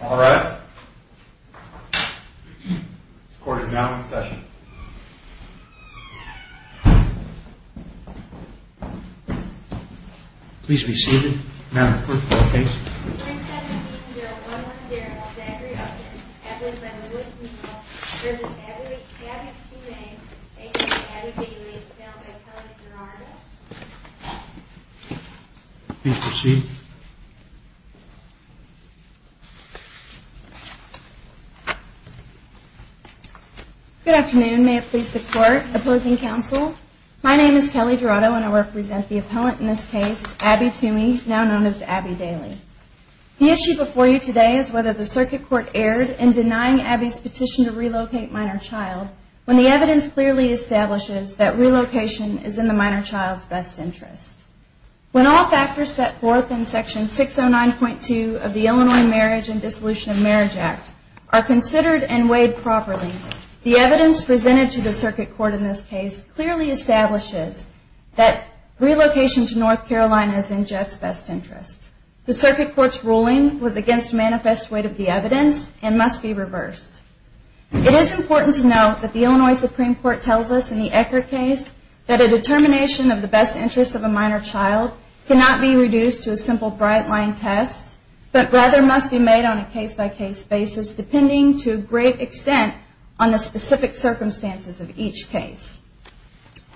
All rise. This court is now in session. Please be seated. Madam Clerk, your case. 317-0110, Zachary Upton, added by Lewis Newell, v. Abby Twomey, a.k.a. Abby Bigley, is found by Kelly Gerardo. Please proceed. Good afternoon. May it please the Court, opposing counsel? My name is Kelly Gerardo and I represent the appellant in this case, Abby Twomey, now known as Abby Daly. The issue before you today is whether the circuit court erred in denying Abby's petition to relocate minor child when the evidence clearly establishes that relocation is in the minor child's best interest. When all factors set forth in Section 609.2 of the Illinois Marriage and Dissolution of Marriage Act are considered and weighed properly, the evidence presented to the circuit court in this case clearly establishes that relocation to North Carolina is in Jeff's best interest. The circuit court's ruling was against manifest weight of the evidence and must be reversed. It is important to note that the Illinois Supreme Court tells us in the Ecker case that a determination of the best interest of a minor child cannot be reduced to a simple bright-line test, but rather must be made on a case-by-case basis, depending to a great extent on the specific circumstances of each case.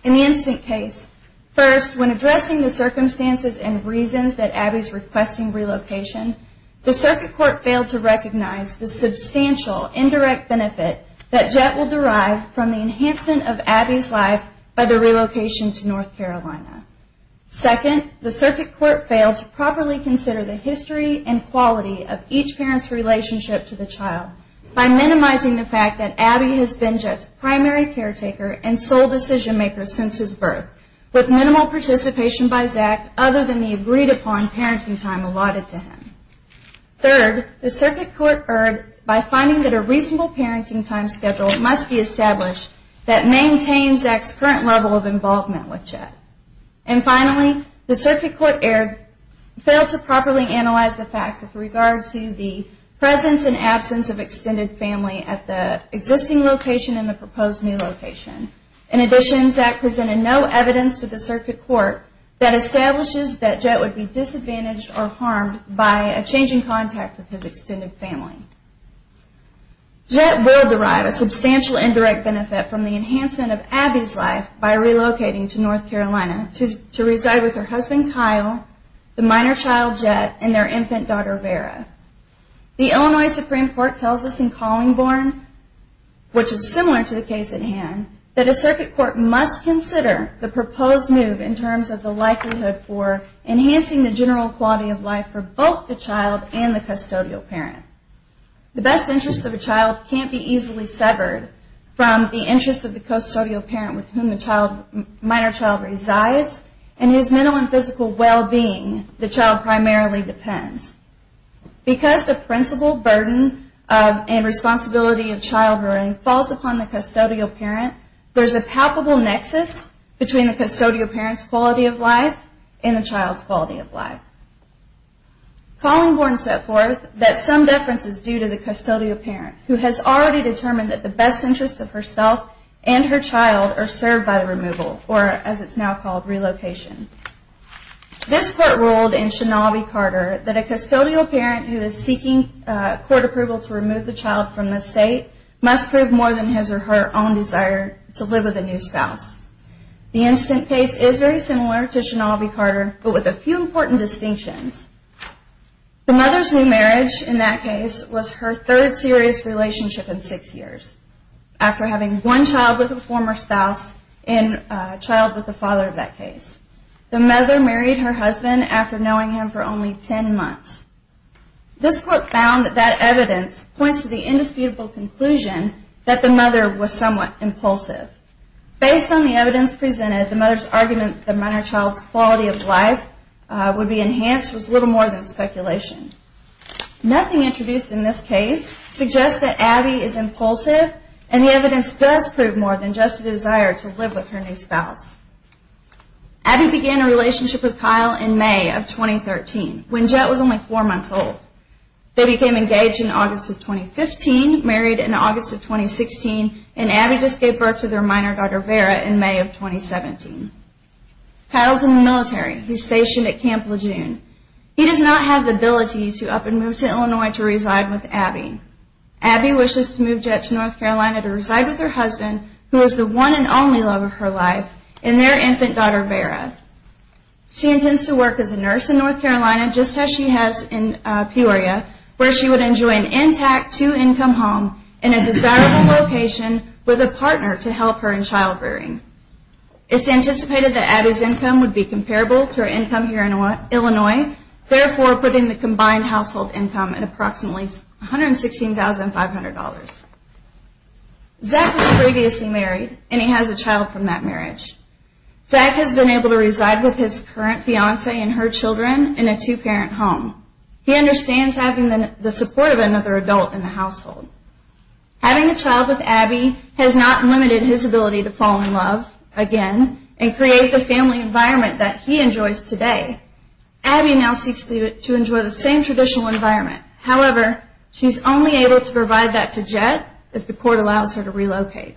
In the instant case, first, when addressing the circumstances and reasons that Abby's requesting relocation, the circuit court failed to recognize the substantial indirect benefit that Jett will derive from the enhancement of Abby's life by the relocation to North Carolina. Second, the circuit court failed to properly consider the history and quality of each parent's relationship to the child by minimizing the fact that Abby has been Jett's primary caretaker and sole decision-maker since his birth, with minimal participation by Zach other than the agreed-upon parenting time allotted to him. Third, the circuit court erred by finding that a reasonable parenting time schedule must be established that maintains Zach's current level of involvement with Jett. And finally, the circuit court failed to properly analyze the facts with regard to the presence and absence of extended family In addition, Zach presented no evidence to the circuit court that establishes that Jett would be disadvantaged or harmed by a change in contact with his extended family. Jett will derive a substantial indirect benefit from the enhancement of Abby's life by relocating to North Carolina to reside with her husband, Kyle, the minor child, Jett, and their infant daughter, Vera. The Illinois Supreme Court tells us in Collingborn, which is similar to the case at hand, that a circuit court must consider the proposed move in terms of the likelihood for enhancing the general quality of life for both the child and the custodial parent. The best interest of a child can't be easily severed from the interest of the custodial parent with whom the minor child resides and whose mental and physical well-being the child primarily depends. Because the principal burden and responsibility of child-rearing falls upon the custodial parent, there's a palpable nexus between the custodial parent's quality of life and the child's quality of life. Collingborn set forth that some deference is due to the custodial parent, who has already determined that the best interest of herself and her child are served by the removal, or as it's now called, relocation. This court ruled in Shinobi-Carter that a custodial parent who is seeking court approval to remove the child from the estate must prove more than his or her own desire to live with a new spouse. The instant case is very similar to Shinobi-Carter, but with a few important distinctions. The mother's new marriage in that case was her third serious relationship in six years, after having one child with a former spouse and a child with the father of that case. The mother married her husband after knowing him for only ten months. This court found that that evidence points to the indisputable conclusion that the mother was somewhat impulsive. Based on the evidence presented, the mother's argument that the minor child's quality of life would be enhanced was little more than speculation. Nothing introduced in this case suggests that Abby is impulsive, and the evidence does prove more than just a desire to live with her new spouse. Abby began a relationship with Kyle in May of 2013, when Jet was only four months old. They became engaged in August of 2015, married in August of 2016, and Abby just gave birth to their minor daughter, Vera, in May of 2017. Kyle is in the military. He is stationed at Camp Lejeune. He does not have the ability to up and move to Illinois to reside with Abby. Abby wishes to move Jet to North Carolina to reside with her husband, who is the one and only love of her life, and their infant daughter, Vera. She intends to work as a nurse in North Carolina, just as she has in Peoria, where she would enjoy an intact two-income home in a desirable location with a partner to help her in child-rearing. It's anticipated that Abby's income would be comparable to her income here in Illinois, therefore putting the combined household income at approximately $116,500. Zach was previously married, and he has a child from that marriage. Zach has been able to reside with his current fiancée and her children in a two-parent home. He understands having the support of another adult in the household. Having a child with Abby has not limited his ability to fall in love again and create the family environment that he enjoys today. Abby now seeks to enjoy the same traditional environment. However, she is only able to provide that to Jet if the court allows her to relocate.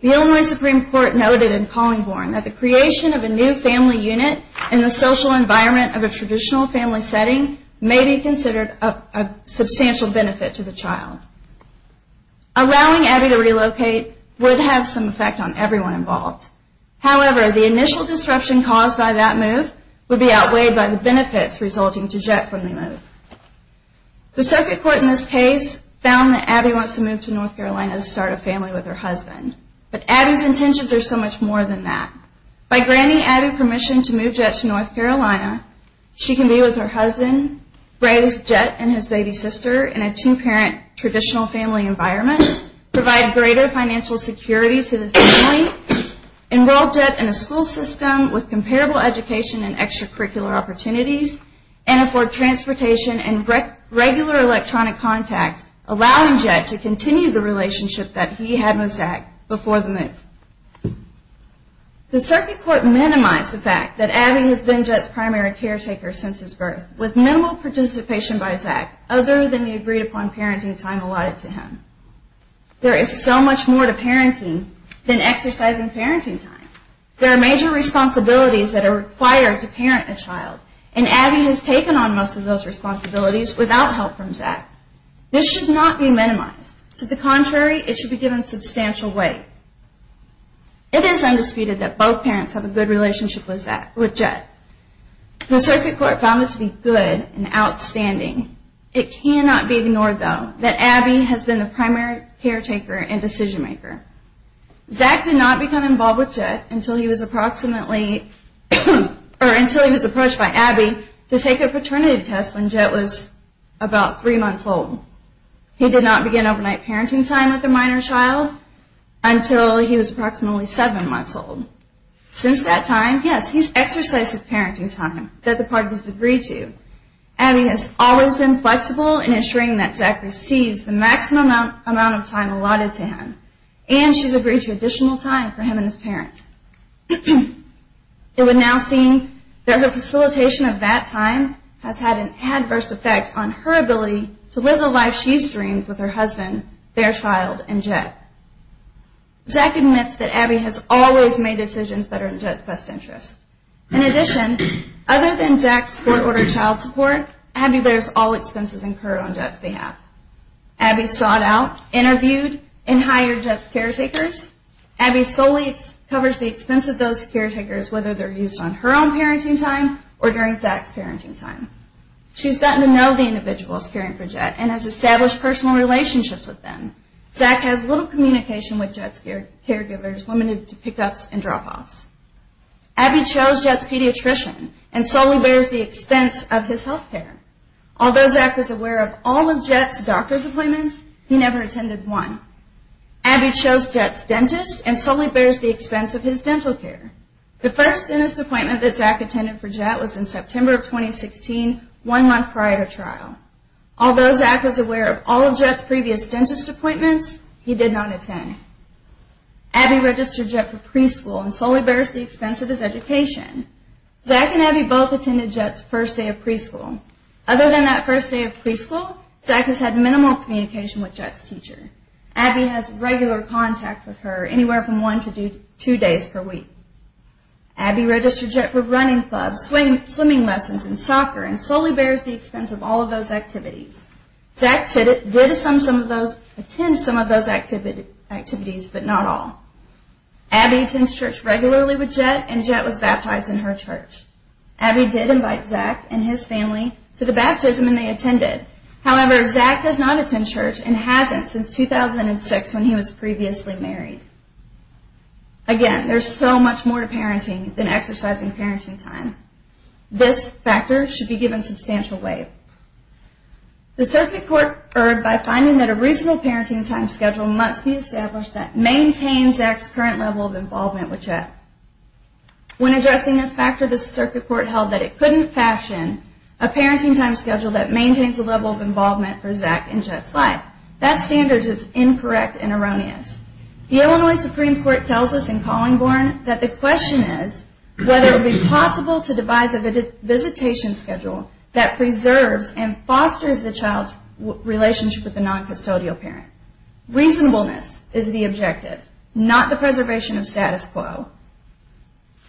The Illinois Supreme Court noted in Collingborn that the creation of a new family unit in the social environment of a traditional family setting may be considered a substantial benefit to the child. Allowing Abby to relocate would have some effect on everyone involved. However, the initial disruption caused by that move would be outweighed by the benefits resulting to Jet from the move. The circuit court in this case found that Abby wants to move to North Carolina to start a family with her husband. But Abby's intentions are so much more than that. By granting Abby permission to move Jet to North Carolina, she can be with her husband, raise Jet and his baby sister in a two-parent traditional family environment, provide greater financial security to the family, enroll Jet in a school system with comparable education and extracurricular opportunities, and afford transportation and regular electronic contact, allowing Jet to continue the relationship that he had with Zach before the move. The circuit court minimized the fact that Abby has been Jet's primary caretaker since his birth, with minimal participation by Zach other than the agreed-upon parenting time allotted to him. There is so much more to parenting than exercising parenting time. There are major responsibilities that are required to parent a child, and Abby has taken on most of those responsibilities without help from Zach. This should not be minimized. To the contrary, it should be given substantial weight. It is undisputed that both parents have a good relationship with Jet. The circuit court found it to be good and outstanding. It cannot be ignored, though, that Abby has been the primary caretaker and decision-maker. Zach did not become involved with Jet until he was approached by Abby to take a paternity test when Jet was about three months old. He did not begin overnight parenting time with a minor child until he was approximately seven months old. Since that time, yes, he's exercised his parenting time that the parties agreed to. Abby has always been flexible in ensuring that Zach receives the maximum amount of time allotted to him. And she's agreed to additional time for him and his parents. It would now seem that her facilitation of that time has had an adverse effect on her ability to live the life she's dreamed with her husband, their child, and Jet. Zach admits that Abby has always made decisions that are in Jet's best interest. In addition, other than Zach's court-ordered child support, Abby bears all expenses incurred on Jet's behalf. Abby sought out, interviewed, and hired Jet's caretakers. Abby solely covers the expense of those caretakers, whether they're used on her own parenting time or during Zach's parenting time. She's gotten to know the individuals caring for Jet and has established personal relationships with them. Zach has little communication with Jet's caregivers, limited to pick-ups and drop-offs. Abby chose Jet's pediatrician and solely bears the expense of his health care. Although Zach was aware of all of Jet's doctor's appointments, he never attended one. Abby chose Jet's dentist and solely bears the expense of his dental care. The first dentist appointment that Zach attended for Jet was in September of 2016, one month prior to trial. Although Zach was aware of all of Jet's previous dentist appointments, he did not attend. Abby registered Jet for preschool and solely bears the expense of his education. Zach and Abby both attended Jet's first day of preschool. Other than that first day of preschool, Zach has had minimal communication with Jet's teacher. Abby has regular contact with her, anywhere from one to two days per week. Abby registered Jet for running clubs, swimming lessons, and soccer, and solely bears the expense of all of those activities. Zach did attend some of those activities, but not all. Abby attends church regularly with Jet, and Jet was baptized in her church. Abby did invite Zach and his family to the baptism, and they attended. However, Zach does not attend church and hasn't since 2006, when he was previously married. Again, there's so much more to parenting than exercising parenting time. This factor should be given substantial weight. The circuit court erred by finding that a reasonable parenting time schedule must be established that maintains Zach's current level of involvement with Jet. When addressing this factor, the circuit court held that it couldn't fashion a parenting time schedule that maintains a level of involvement for Zach in Jet's life. That standard is incorrect and erroneous. The Illinois Supreme Court tells us in Collingborn that the question is whether it would be possible to devise a visitation schedule that preserves and fosters the child's relationship with the noncustodial parent. Reasonableness is the objective, not the preservation of status quo.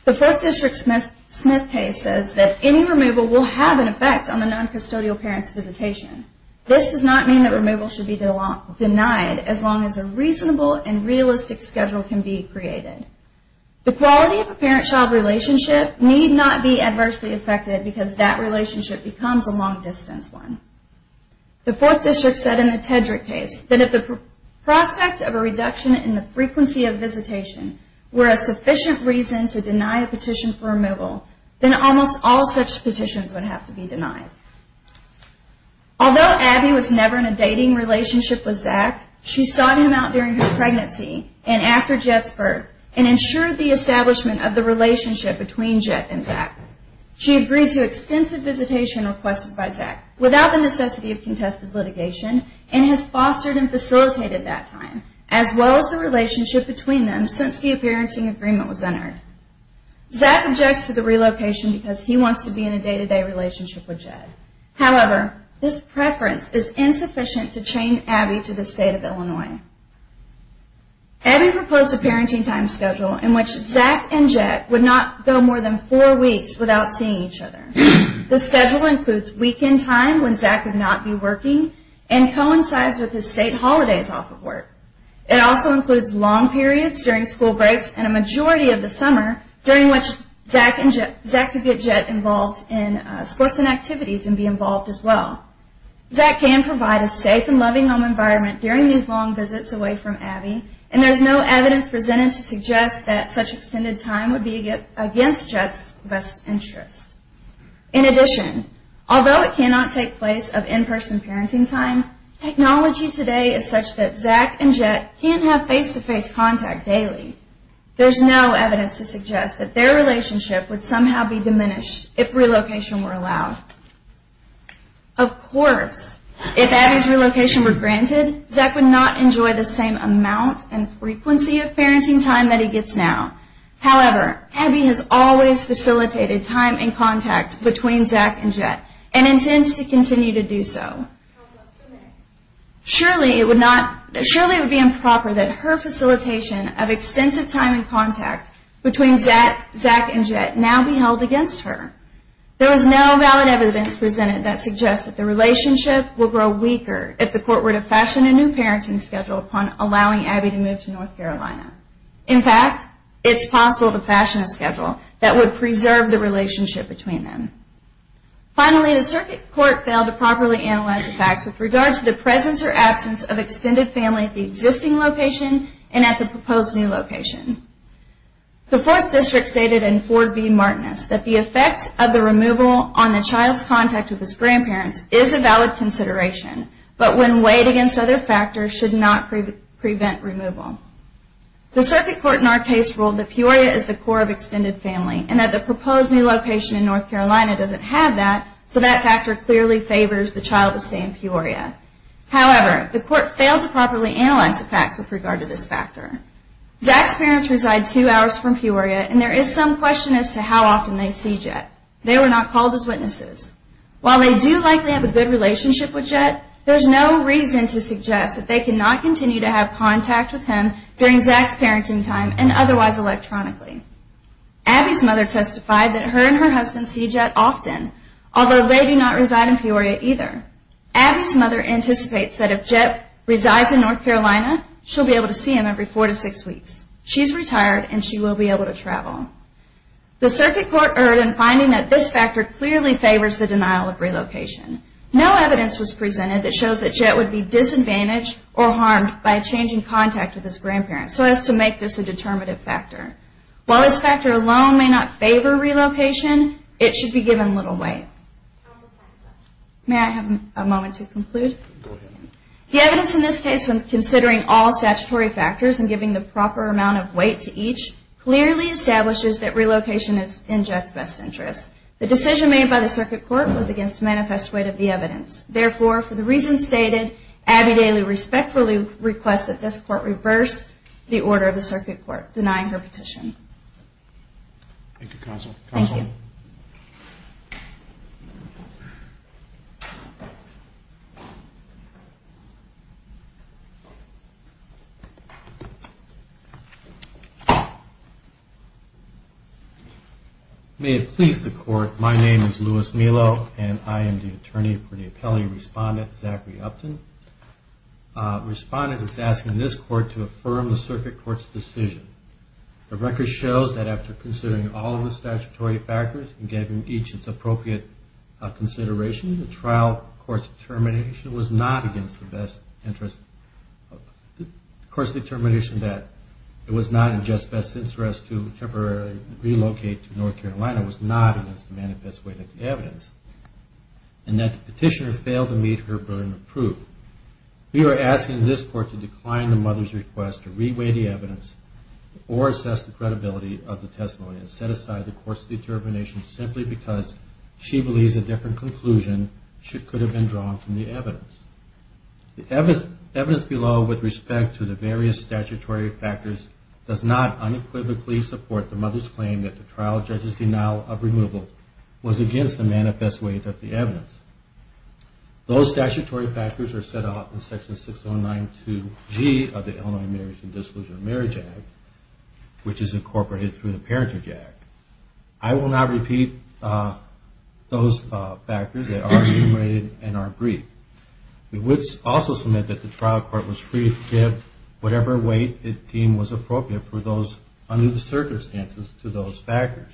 The 4th District Smith case says that any removal will have an effect on the noncustodial parent's visitation. This does not mean that removal should be denied, as long as a reasonable and realistic schedule can be created. The quality of a parent-child relationship need not be adversely affected because that relationship becomes a long-distance one. The 4th District said in the Tedrick case that if the prospect of a reduction in the frequency of visitation were a sufficient reason to deny a petition for removal, then almost all such petitions would have to be denied. Although Abby was never in a dating relationship with Zach, she sought him out during her pregnancy and after Jed's birth and ensured the establishment of the relationship between Jed and Zach. She agreed to extensive visitation requested by Zach, without the necessity of contested litigation, and has fostered and facilitated that time, as well as the relationship between them since the appearancing agreement was entered. Zach objects to the relocation because he wants to be in a day-to-day relationship with Jed. However, this preference is insufficient to chain Abby to the state of Illinois. Abby proposed a parenting time schedule in which Zach and Jed would not go more than 4 weeks without seeing each other. The schedule includes weekend time when Zach would not be working and coincides with his state holidays off of work. It also includes long periods during school breaks and a majority of the summer during which Zach could get Jed involved in sports and activities and be involved as well. Zach can provide a safe and loving home environment during these long visits away from Abby and there is no evidence presented to suggest that such extended time would be against Jed's best interest. In addition, although it cannot take place of in-person parenting time, technology today is such that Zach and Jed can't have face-to-face contact daily. There is no evidence to suggest that their relationship would somehow be diminished if relocation were allowed. Of course, if Abby's relocation were granted, Zach would not enjoy the same amount and frequency of parenting time that he gets now. However, Abby has always facilitated time and contact between Zach and Jed and intends to continue to do so. Surely it would be improper that her facilitation of extensive time and contact between Zach and Jed now be held against her. There is no valid evidence presented that suggests that the relationship will grow weaker if the court were to fashion a new parenting schedule upon allowing Abby to move to North Carolina. In fact, it's possible to fashion a schedule that would preserve the relationship between them. Finally, the circuit court failed to properly analyze the facts with regard to the presence or absence of extended family at the existing location and at the proposed new location. The Fourth District stated in Ford v. Martinis that the effect of the removal on the child's contact with his grandparents is a valid consideration, but when weighed against other factors should not prevent removal. The circuit court in our case ruled that Peoria is the core of extended family and that the proposed new location in North Carolina doesn't have that, so that factor clearly favors the child to stay in Peoria. However, the court failed to properly analyze the facts with regard to this factor. Zach's parents reside two hours from Peoria and there is some question as to how often they see Jed. They were not called as witnesses. While they do likely have a good relationship with Jed, there's no reason to suggest that they cannot continue to have contact with him during Zach's parenting time and otherwise electronically. Abby's mother testified that her and her husband see Jed often, although they do not reside in Peoria either. Abby's mother anticipates that if Jed resides in North Carolina, she'll be able to see him every four to six weeks. She's retired and she will be able to travel. The circuit court erred in finding that this factor clearly favors the denial of relocation. No evidence was presented that shows that Jed would be disadvantaged or harmed by changing contact with his grandparents so as to make this a determinative factor. While this factor alone may not favor relocation, it should be given little weight. May I have a moment to conclude? The evidence in this case when considering all statutory factors and giving the proper amount of weight to each clearly establishes that relocation is in Jed's best interest. The decision made by the circuit court was against manifest weight of the evidence. Therefore, for the reasons stated, Abby Daly respectfully requests that this court reverse the order of the circuit court denying her petition. Thank you, Counsel. Thank you. May it please the Court, my name is Louis Melo and I am the attorney for the appellate respondent, Zachary Upton. The respondent is asking this court to affirm the circuit court's decision. The record shows that after considering all of the statutory factors and giving each its appropriate consideration, the trial court's determination was not against the best interest. The court's determination that it was not in Jed's best interest to temporarily relocate to North Carolina was not against the manifest weight of the evidence and that the petitioner failed to meet her burden of proof. We are asking this court to decline the mother's request to re-weight the evidence or assess the credibility of the testimony and set aside the court's determination simply because she believes a different conclusion could have been drawn from the evidence. The evidence below with respect to the various statutory factors does not unequivocally support the mother's claim that the trial judge's denial of removal was against the manifest weight of the evidence. Those statutory factors are set out in section 6092G of the Illinois Marriage and Disclosure of Marriage Act, which is incorporated through the Parentage Act. I will not repeat those factors. They are enumerated and are brief. We would also submit that the trial court was free to give whatever weight it deemed was appropriate for those under the circumstances to those factors.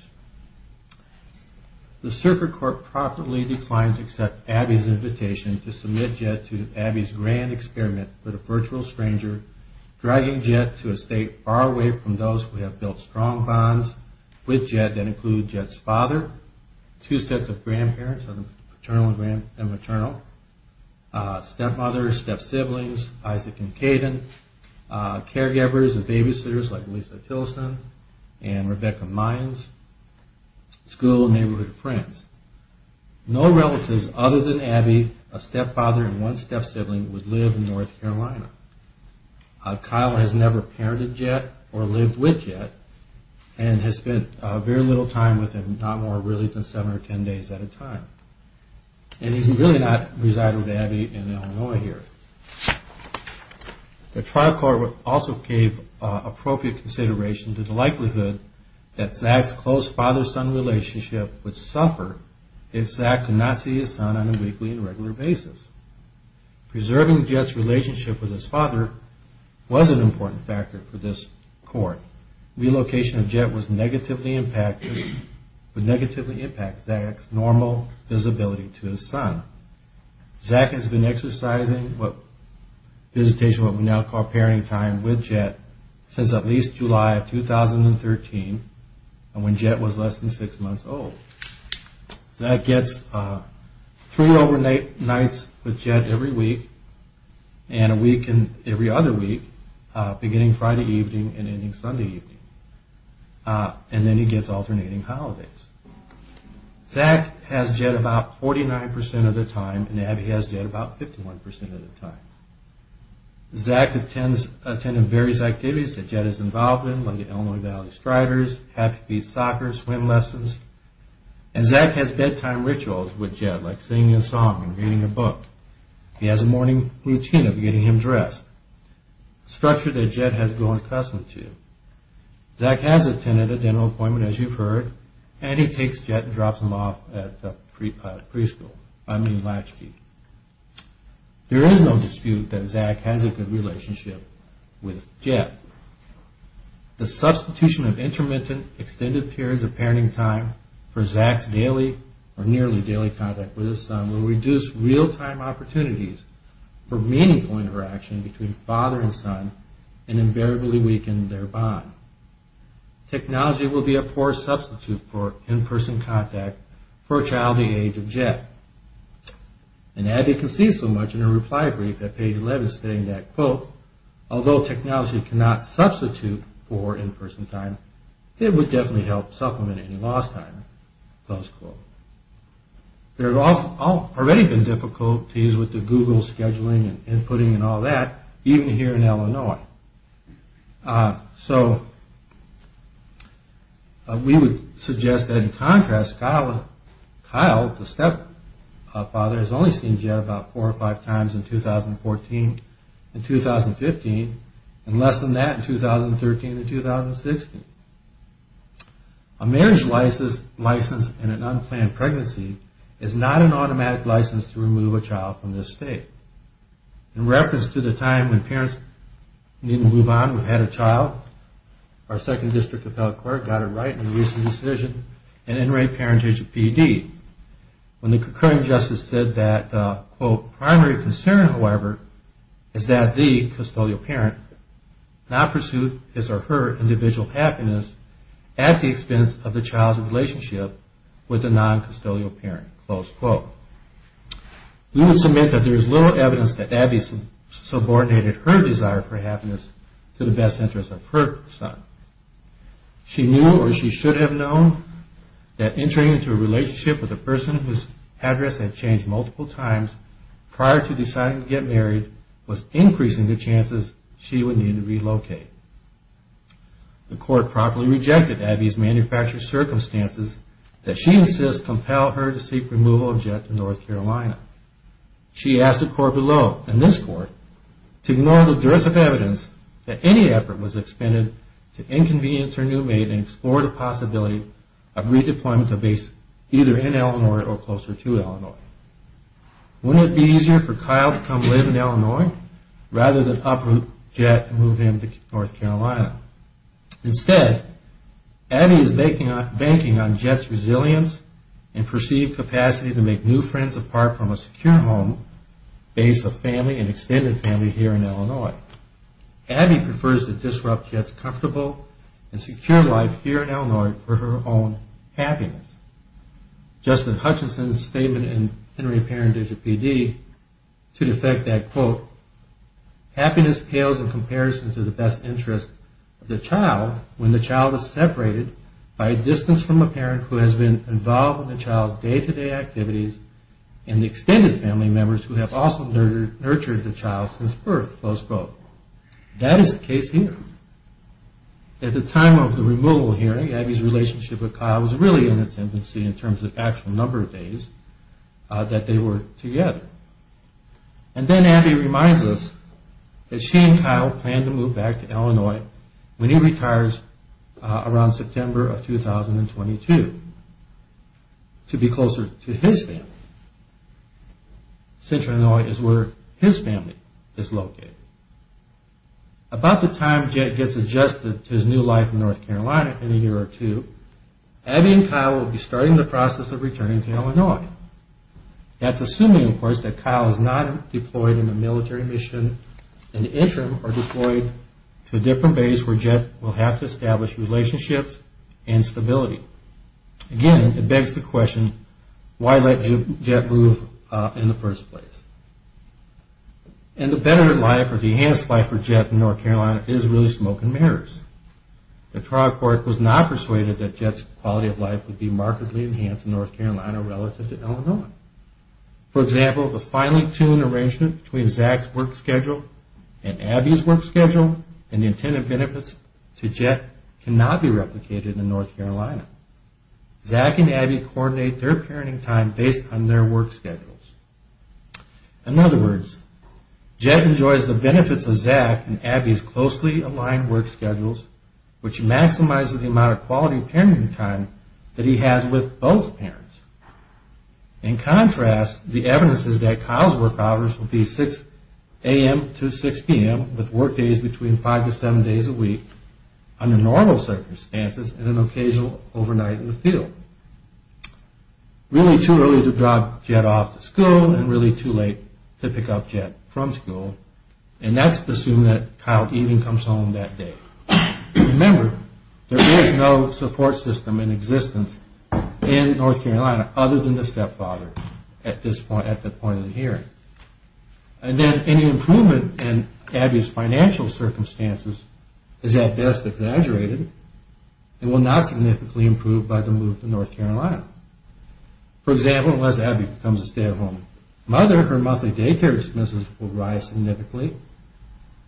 The circuit court promptly declined to accept Abby's invitation to submit Jed to Abby's grand experiment with a virtual stranger, dragging Jed to a state far away from those who have built strong bonds with Jed that include Jed's father, two sets of grandparents, paternal and maternal, stepmother, step-siblings, Isaac and Kayden, caregivers and babysitters like Lisa Tilson and Rebecca Mines, school and neighborhood friends. No relatives other than Abby, a stepfather, and one step-sibling would live in North Carolina. Kyle has never parented Jed or lived with Jed and has spent very little time with him, not more than seven or ten days at a time. And he's really not residing with Abby in Illinois here. The trial court also gave appropriate consideration to the likelihood that Zach's close father-son relationship would suffer if Zach could not see his son on a weekly and regular basis. Preserving Jed's relationship with his father was an important factor for this court. Relocation of Jed would negatively impact Zach's normal visibility to his son. Zach has been exercising visitation, what we now call parenting time, with Jed since at least July of 2013 and when Jed was less than six months old. Zach gets three overnight nights with Jed every week and a week and every other week, beginning Friday evening and ending Sunday evening. And then he gets alternating holidays. Zach has Jed about 49% of the time and Abby has Jed about 51% of the time. Zach attends various activities that Jed is involved in, like the Illinois Valley Striders, happy feet soccer, swim lessons. And Zach has bedtime rituals with Jed, like singing a song and reading a book. He has a morning routine of getting him dressed, a structure that Jed has grown accustomed to. Zach has attended a dental appointment, as you've heard, and he takes Jed and drops him off at the preschool, I mean Latchkey. There is no dispute that Zach has a good relationship with Jed. The substitution of intermittent, extended periods of parenting time for Zach's daily or nearly daily contact with his son will reduce real-time opportunities for meaningful interaction between father and son and invariably weaken their bond. Technology will be a poor substitute for in-person contact for a child the age of Jed. And Abby can see so much in her reply brief at page 11 stating that, quote, although technology cannot substitute for in-person time, it would definitely help supplement any lost time, close quote. There have already been difficulties with the Google scheduling and inputting and all that, even here in Illinois. So we would suggest that in contrast, Kyle, the stepfather, has only seen Jed about four or five times in 2014 and 2015 and less than that in 2013 and 2016. A marriage license and an unplanned pregnancy is not an automatic license to remove a child from this state. In reference to the time when parents needed to move on who had a child, our second district appellate court got it right in a recent decision in in-rate parentage of PD. When the concurring justice said that, quote, primary concern, however, is that the custodial parent not pursued his or her individual happiness at the expense of the child's relationship with the non-custodial parent, close quote. We would submit that there is little evidence that Abby subordinated her desire for happiness to the best interest of her son. She knew or she should have known that entering into a relationship with a person whose address had changed multiple times prior to deciding to get married was increasing the chances she would need to relocate. The court properly rejected Abby's manufactured circumstances that she insists compel her to seek removal of Jed to North Carolina. She asked the court below, and this court, to ignore the duress of evidence that any effort was expended to inconvenience her new maid and explore the possibility of redeployment to a base either in Illinois or closer to Illinois. Wouldn't it be easier for Kyle to come live in Illinois rather than uproot Jed and move him to North Carolina? Instead, Abby is banking on Jed's resilience and perceived capacity to make new friends apart from a secure home base of family and extended family here in Illinois. Abby prefers to disrupt Jed's comfortable and secure life here in Illinois for her own happiness. Justin Hutchinson's statement in Henry Parentage, a PD, to defect that, quote, happiness pales in comparison to the best interest of the child when the child is separated by a distance from a parent who has been involved in the child's day-to-day activities and the extended family members who have also nurtured the child since birth, close quote. That is the case here. At the time of the removal hearing, Abby's relationship with Kyle was really in its infancy in terms of actual number of days that they were together. And then Abby reminds us that she and Kyle plan to move back to Illinois when he retires around September of 2022 to be closer to his family. Central Illinois is where his family is located. About the time Jed gets adjusted to his new life in North Carolina in a year or two, Abby and Kyle will be starting the process of returning to Illinois. That's assuming, of course, that Kyle is not deployed in a military mission in the interim or deployed to a different base where Jed will have to establish relationships and stability. Again, it begs the question, why let Jed move in the first place? And the better life or enhanced life for Jed in North Carolina is really smoke and mirrors. The trial court was not persuaded that Jed's quality of life would be markedly enhanced in North Carolina relative to Illinois. For example, the finely tuned arrangement between Zach's work schedule and Abby's work schedule and the intended benefits to Jed cannot be replicated in North Carolina. Zach and Abby coordinate their parenting time based on their work schedules. In other words, Jed enjoys the benefits of Zach and Abby's closely aligned work schedules, which maximizes the amount of quality parenting time that he has with both parents. In contrast, the evidence is that Kyle's work hours will be 6 a.m. to 6 p.m. with work days between 5 to 7 days a week under normal circumstances and an occasional overnight in the field. Really too early to drop Jed off to school and really too late to pick up Jed from school. And that's assuming that Kyle even comes home that day. Remember, there is no support system in existence in North Carolina other than the stepfather at the point of the hearing. And then any improvement in Abby's financial circumstances is at best exaggerated and will not significantly improve by the move to North Carolina. For example, unless Abby becomes a stay-at-home mother, her monthly daycare expenses will rise significantly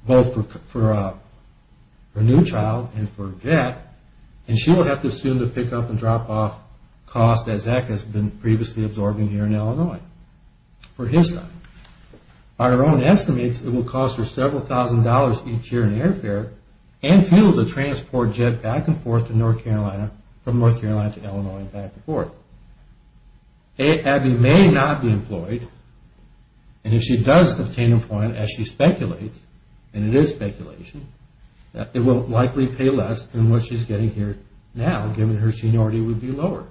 both for her new child and for Jed, and she will have to assume to pick up and drop off costs that Zach has been previously absorbing here in Illinois for his time. By her own estimates, it will cost her several thousand dollars each year in airfare and fuel to transport Jed back and forth from North Carolina to Illinois and back and forth. Abby may not be employed, and if she does obtain employment, as she speculates, and it is speculation, it will likely pay less than what she's getting here now, given her seniority would be lower.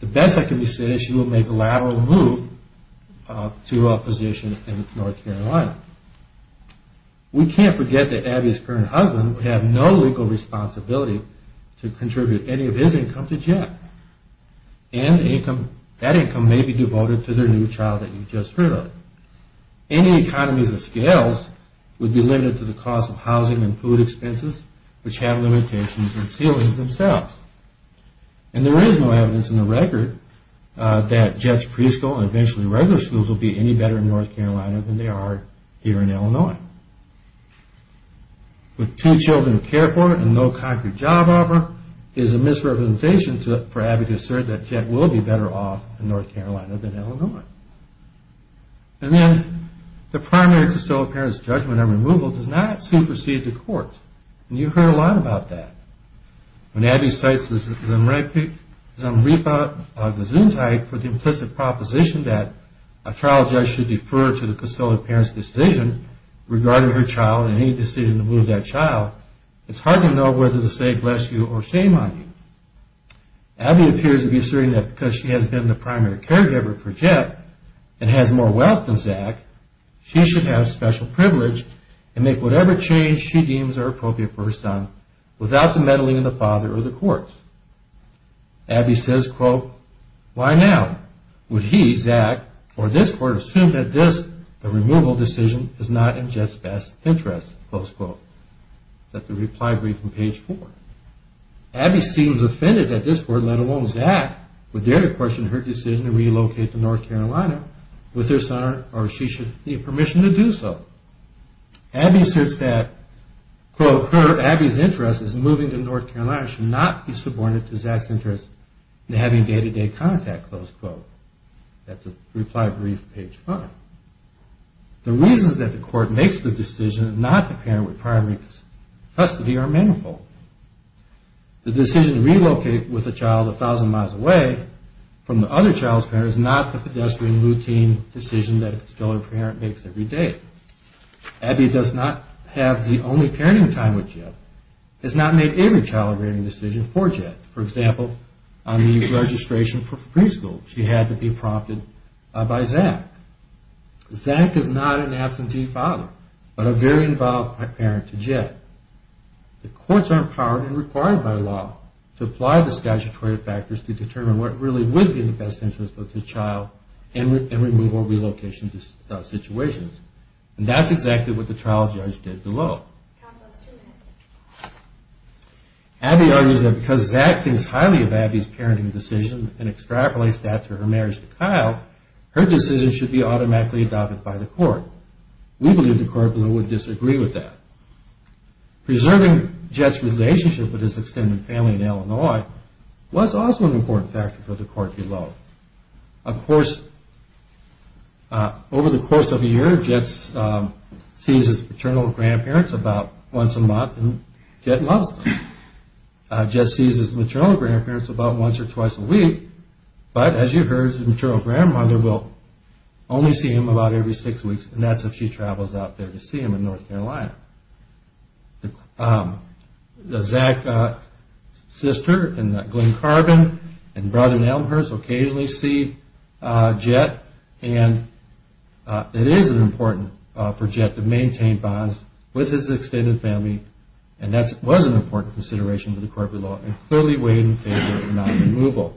The best that can be said is she will make a lateral move to a position in North Carolina. We can't forget that Abby's current husband would have no legal responsibility to contribute any of his income to Jed. And that income may be devoted to their new child that you just heard of. Any economies of scales would be limited to the cost of housing and food expenses, which have limitations on ceilings themselves. And there is no evidence in the record that Jed's preschool and eventually regular schools will be any better in North Carolina than they are here in Illinois. With two children to care for and no concrete job offer, it is a misrepresentation for Abby to assert that Jed will be better off in North Carolina than Illinois. And then the primary custodial parent's judgment on removal does not supersede the court. And you've heard a lot about that. When Abby cites the Zumbripa Gesundheit for the implicit proposition that a trial judge should defer to the custodial parent's decision regarding her child and any decision to move that child, it's hard to know whether to say bless you or shame on you. Abby appears to be asserting that because she has been the primary caregiver for Jed and has more wealth than Zach, she should have special privilege and make whatever change she deems are appropriate for her son without the meddling of the father or the courts. Abby says, quote, why now? Would he, Zach, or this court assume that this, the removal decision, is not in Jed's best interest? Close quote. Let the reply read from page four. Abby seems offended that this court, let alone Zach, would dare to question her decision to relocate to North Carolina with her son or if she should need permission to do so. Abby asserts that, quote, Abby's interest in moving to North Carolina should not be subordinated to Zach's interest in having day-to-day contact. Close quote. That's a reply brief page five. The reasons that the court makes the decision not to parent with primary custody are manifold. The decision to relocate with a child a thousand miles away from the other child's parents is not the pedestrian routine decision that a custodial parent makes every day. Abby does not have the only parenting time with Jed, has not made every child-rearing decision for Jed. For example, on the registration for preschool, she had to be prompted by Zach. Zach is not an absentee father, but a very involved parent to Jed. The courts are empowered and required by law to apply the statutory factors to determine what really would be in the best interest of the child in removal or relocation situations. And that's exactly what the trial judge did below. Abby argues that because Zach thinks highly of Abby's parenting decision and extrapolates that to her marriage to Kyle, her decision should be automatically adopted by the court. We believe the court below would disagree with that. Preserving Jed's relationship with his extended family in Illinois was also an important factor for the court below. Of course, over the course of a year, Jed sees his maternal grandparents about once a month and Jed loves them. But as you heard, his maternal grandmother will only see him about every six weeks and that's if she travels out there to see him in North Carolina. Zach's sister and Glen Carbon and brother Elmhurst occasionally see Jed and it is important for Jed to maintain bonds with his extended family and that was an important consideration to the court below and clearly weighed in favor of not removal.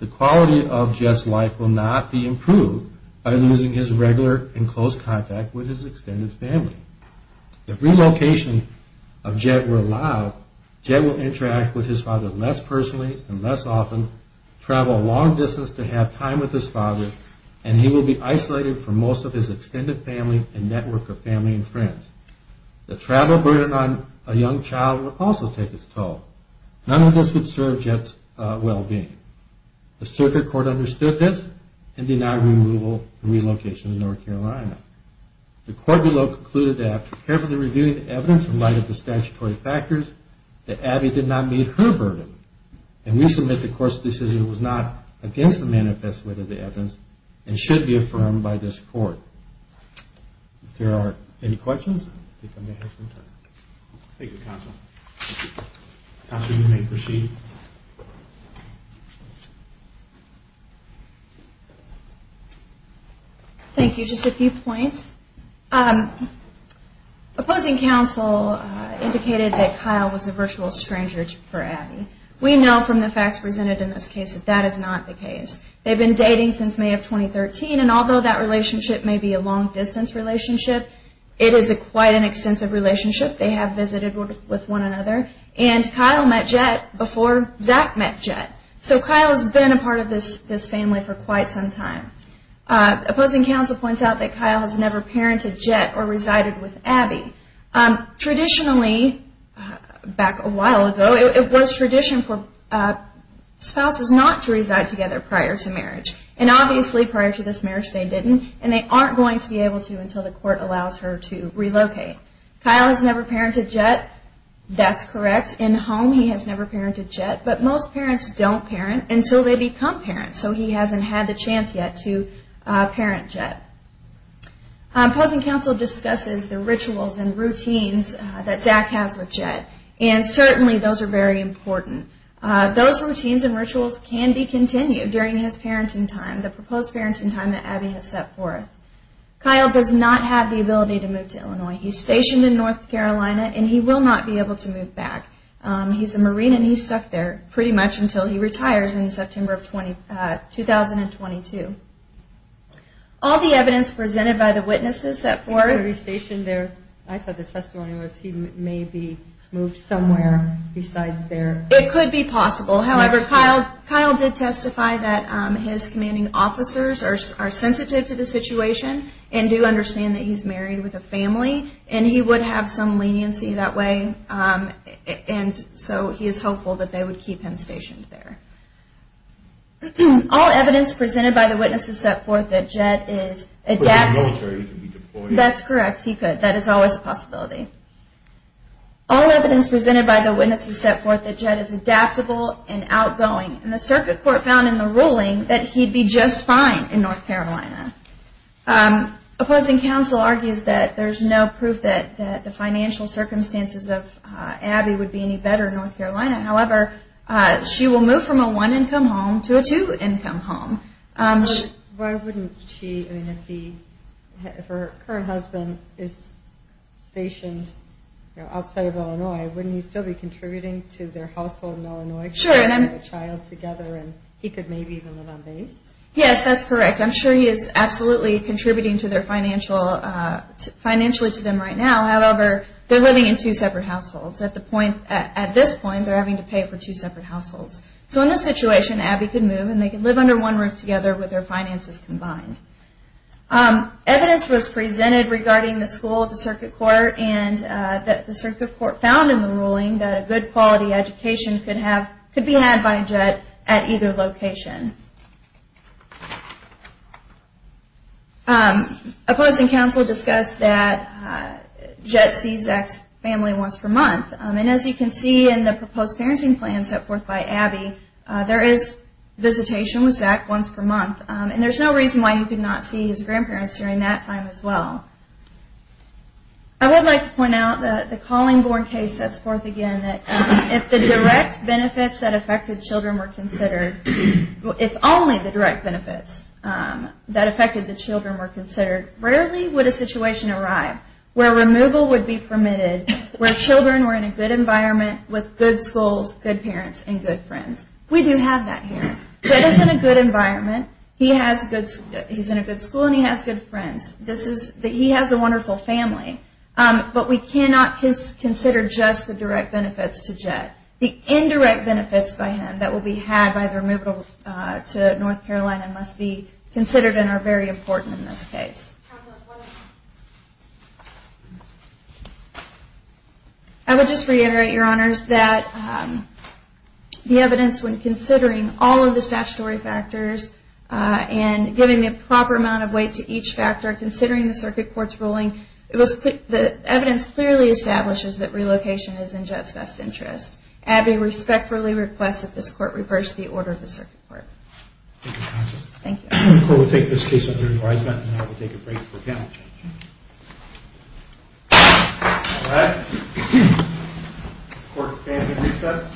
The quality of Jed's life will not be improved by losing his regular and close contact with his extended family. If relocation of Jed were allowed, Jed will interact with his father less personally and less often, travel a long distance to have time with his father, and he will be isolated from most of his extended family and network of family and friends. The travel burden on a young child will also take its toll. None of this could serve Jed's well-being. The circuit court understood this and denied removal and relocation to North Carolina. The court below concluded that after carefully reviewing the evidence in light of the statutory factors, that Abby did not meet her burden and we submit the court's decision was not against the manifest way of the evidence and should be affirmed by this court. If there are any questions, I think I may have some time. Thank you, counsel. Counsel, you may proceed. Thank you. Just a few points. Opposing counsel indicated that Kyle was a virtual stranger for Abby. We know from the facts presented in this case that that is not the case. They've been dating since May of 2013 and although that relationship may be a long-distance relationship, it is quite an extensive relationship. They have visited with one another. And Kyle met Jed before Zach met Jed. So Kyle has been a part of this family for quite some time. Opposing counsel points out that Kyle has never parented Jed or resided with Abby. Traditionally, back a while ago, it was tradition for spouses not to reside together prior to marriage. And obviously, prior to this marriage, they didn't. And they aren't going to be able to until the court allows her to relocate. Kyle has never parented Jed. That's correct. In home, he has never parented Jed. But most parents don't parent until they become parents. So he hasn't had the chance yet to parent Jed. Opposing counsel discusses the rituals and routines that Zach has with Jed. And certainly, those are very important. Those routines and rituals can be continued during his parenting time, the proposed parenting time that Abby has set forth. Kyle does not have the ability to move to Illinois. He's stationed in North Carolina, and he will not be able to move back. He's a Marine, and he's stuck there pretty much until he retires in September of 2022. All the evidence presented by the witnesses that for... He's going to be stationed there. I thought the testimony was he may be moved somewhere besides there. It could be possible. However, Kyle did testify that his commanding officers are sensitive to the situation and do understand that he's married with a family. And he would have some leniency that way. And so he is hopeful that they would keep him stationed there. All evidence presented by the witnesses set forth that Jed is... But the military could be deployed. That's correct. He could. That is always a possibility. All evidence presented by the witnesses set forth that Jed is adaptable and outgoing. And the circuit court found in the ruling that he'd be just fine in North Carolina. Opposing counsel argues that there's no proof that the financial circumstances of Abby would be any better in North Carolina. However, she will move from a one-income home to a two-income home. Why wouldn't she... If her current husband is stationed outside of Illinois, wouldn't he still be contributing to their household in Illinois? Sure. To have a child together and he could maybe even live on base? Yes, that's correct. I'm sure he is absolutely contributing financially to them right now. However, they're living in two separate households. At this point, they're having to pay for two separate households. So in this situation, Abby could move and they could live under one roof together with their finances combined. Evidence was presented regarding the school of the circuit court and that the circuit court found in the ruling that a good quality education could be had by Jed at either location. Opposing counsel discussed that Jed sees Zach's family once per month. And as you can see in the proposed parenting plan set forth by Abby, there is visitation with Zach once per month. And there's no reason why he could not see his grandparents during that time as well. I would like to point out that the Collingborn case sets forth again that if the direct benefits that affected children were considered, if only the direct benefits that affected the children were considered, rarely would a situation arrive where removal would be permitted, where children were in a good environment with good schools, good parents, and good friends. We do have that here. Jed is in a good environment. He's in a good school and he has good friends. He has a wonderful family. But we cannot consider just the direct benefits to Jed. The indirect benefits by him that will be had by the removal to North Carolina must be considered and are very important in this case. I would just reiterate, Your Honors, that the evidence when considering all of the statutory factors and giving the proper amount of weight to each factor, considering the circuit court's ruling, the evidence clearly establishes that relocation is in Jed's best interest. Abby respectfully requests that this court reverse the order of the circuit court. Thank you, Counsel. Thank you. The court will take this case under advisement, and I will take a break for panel discussion. All right. The court is standing in recess.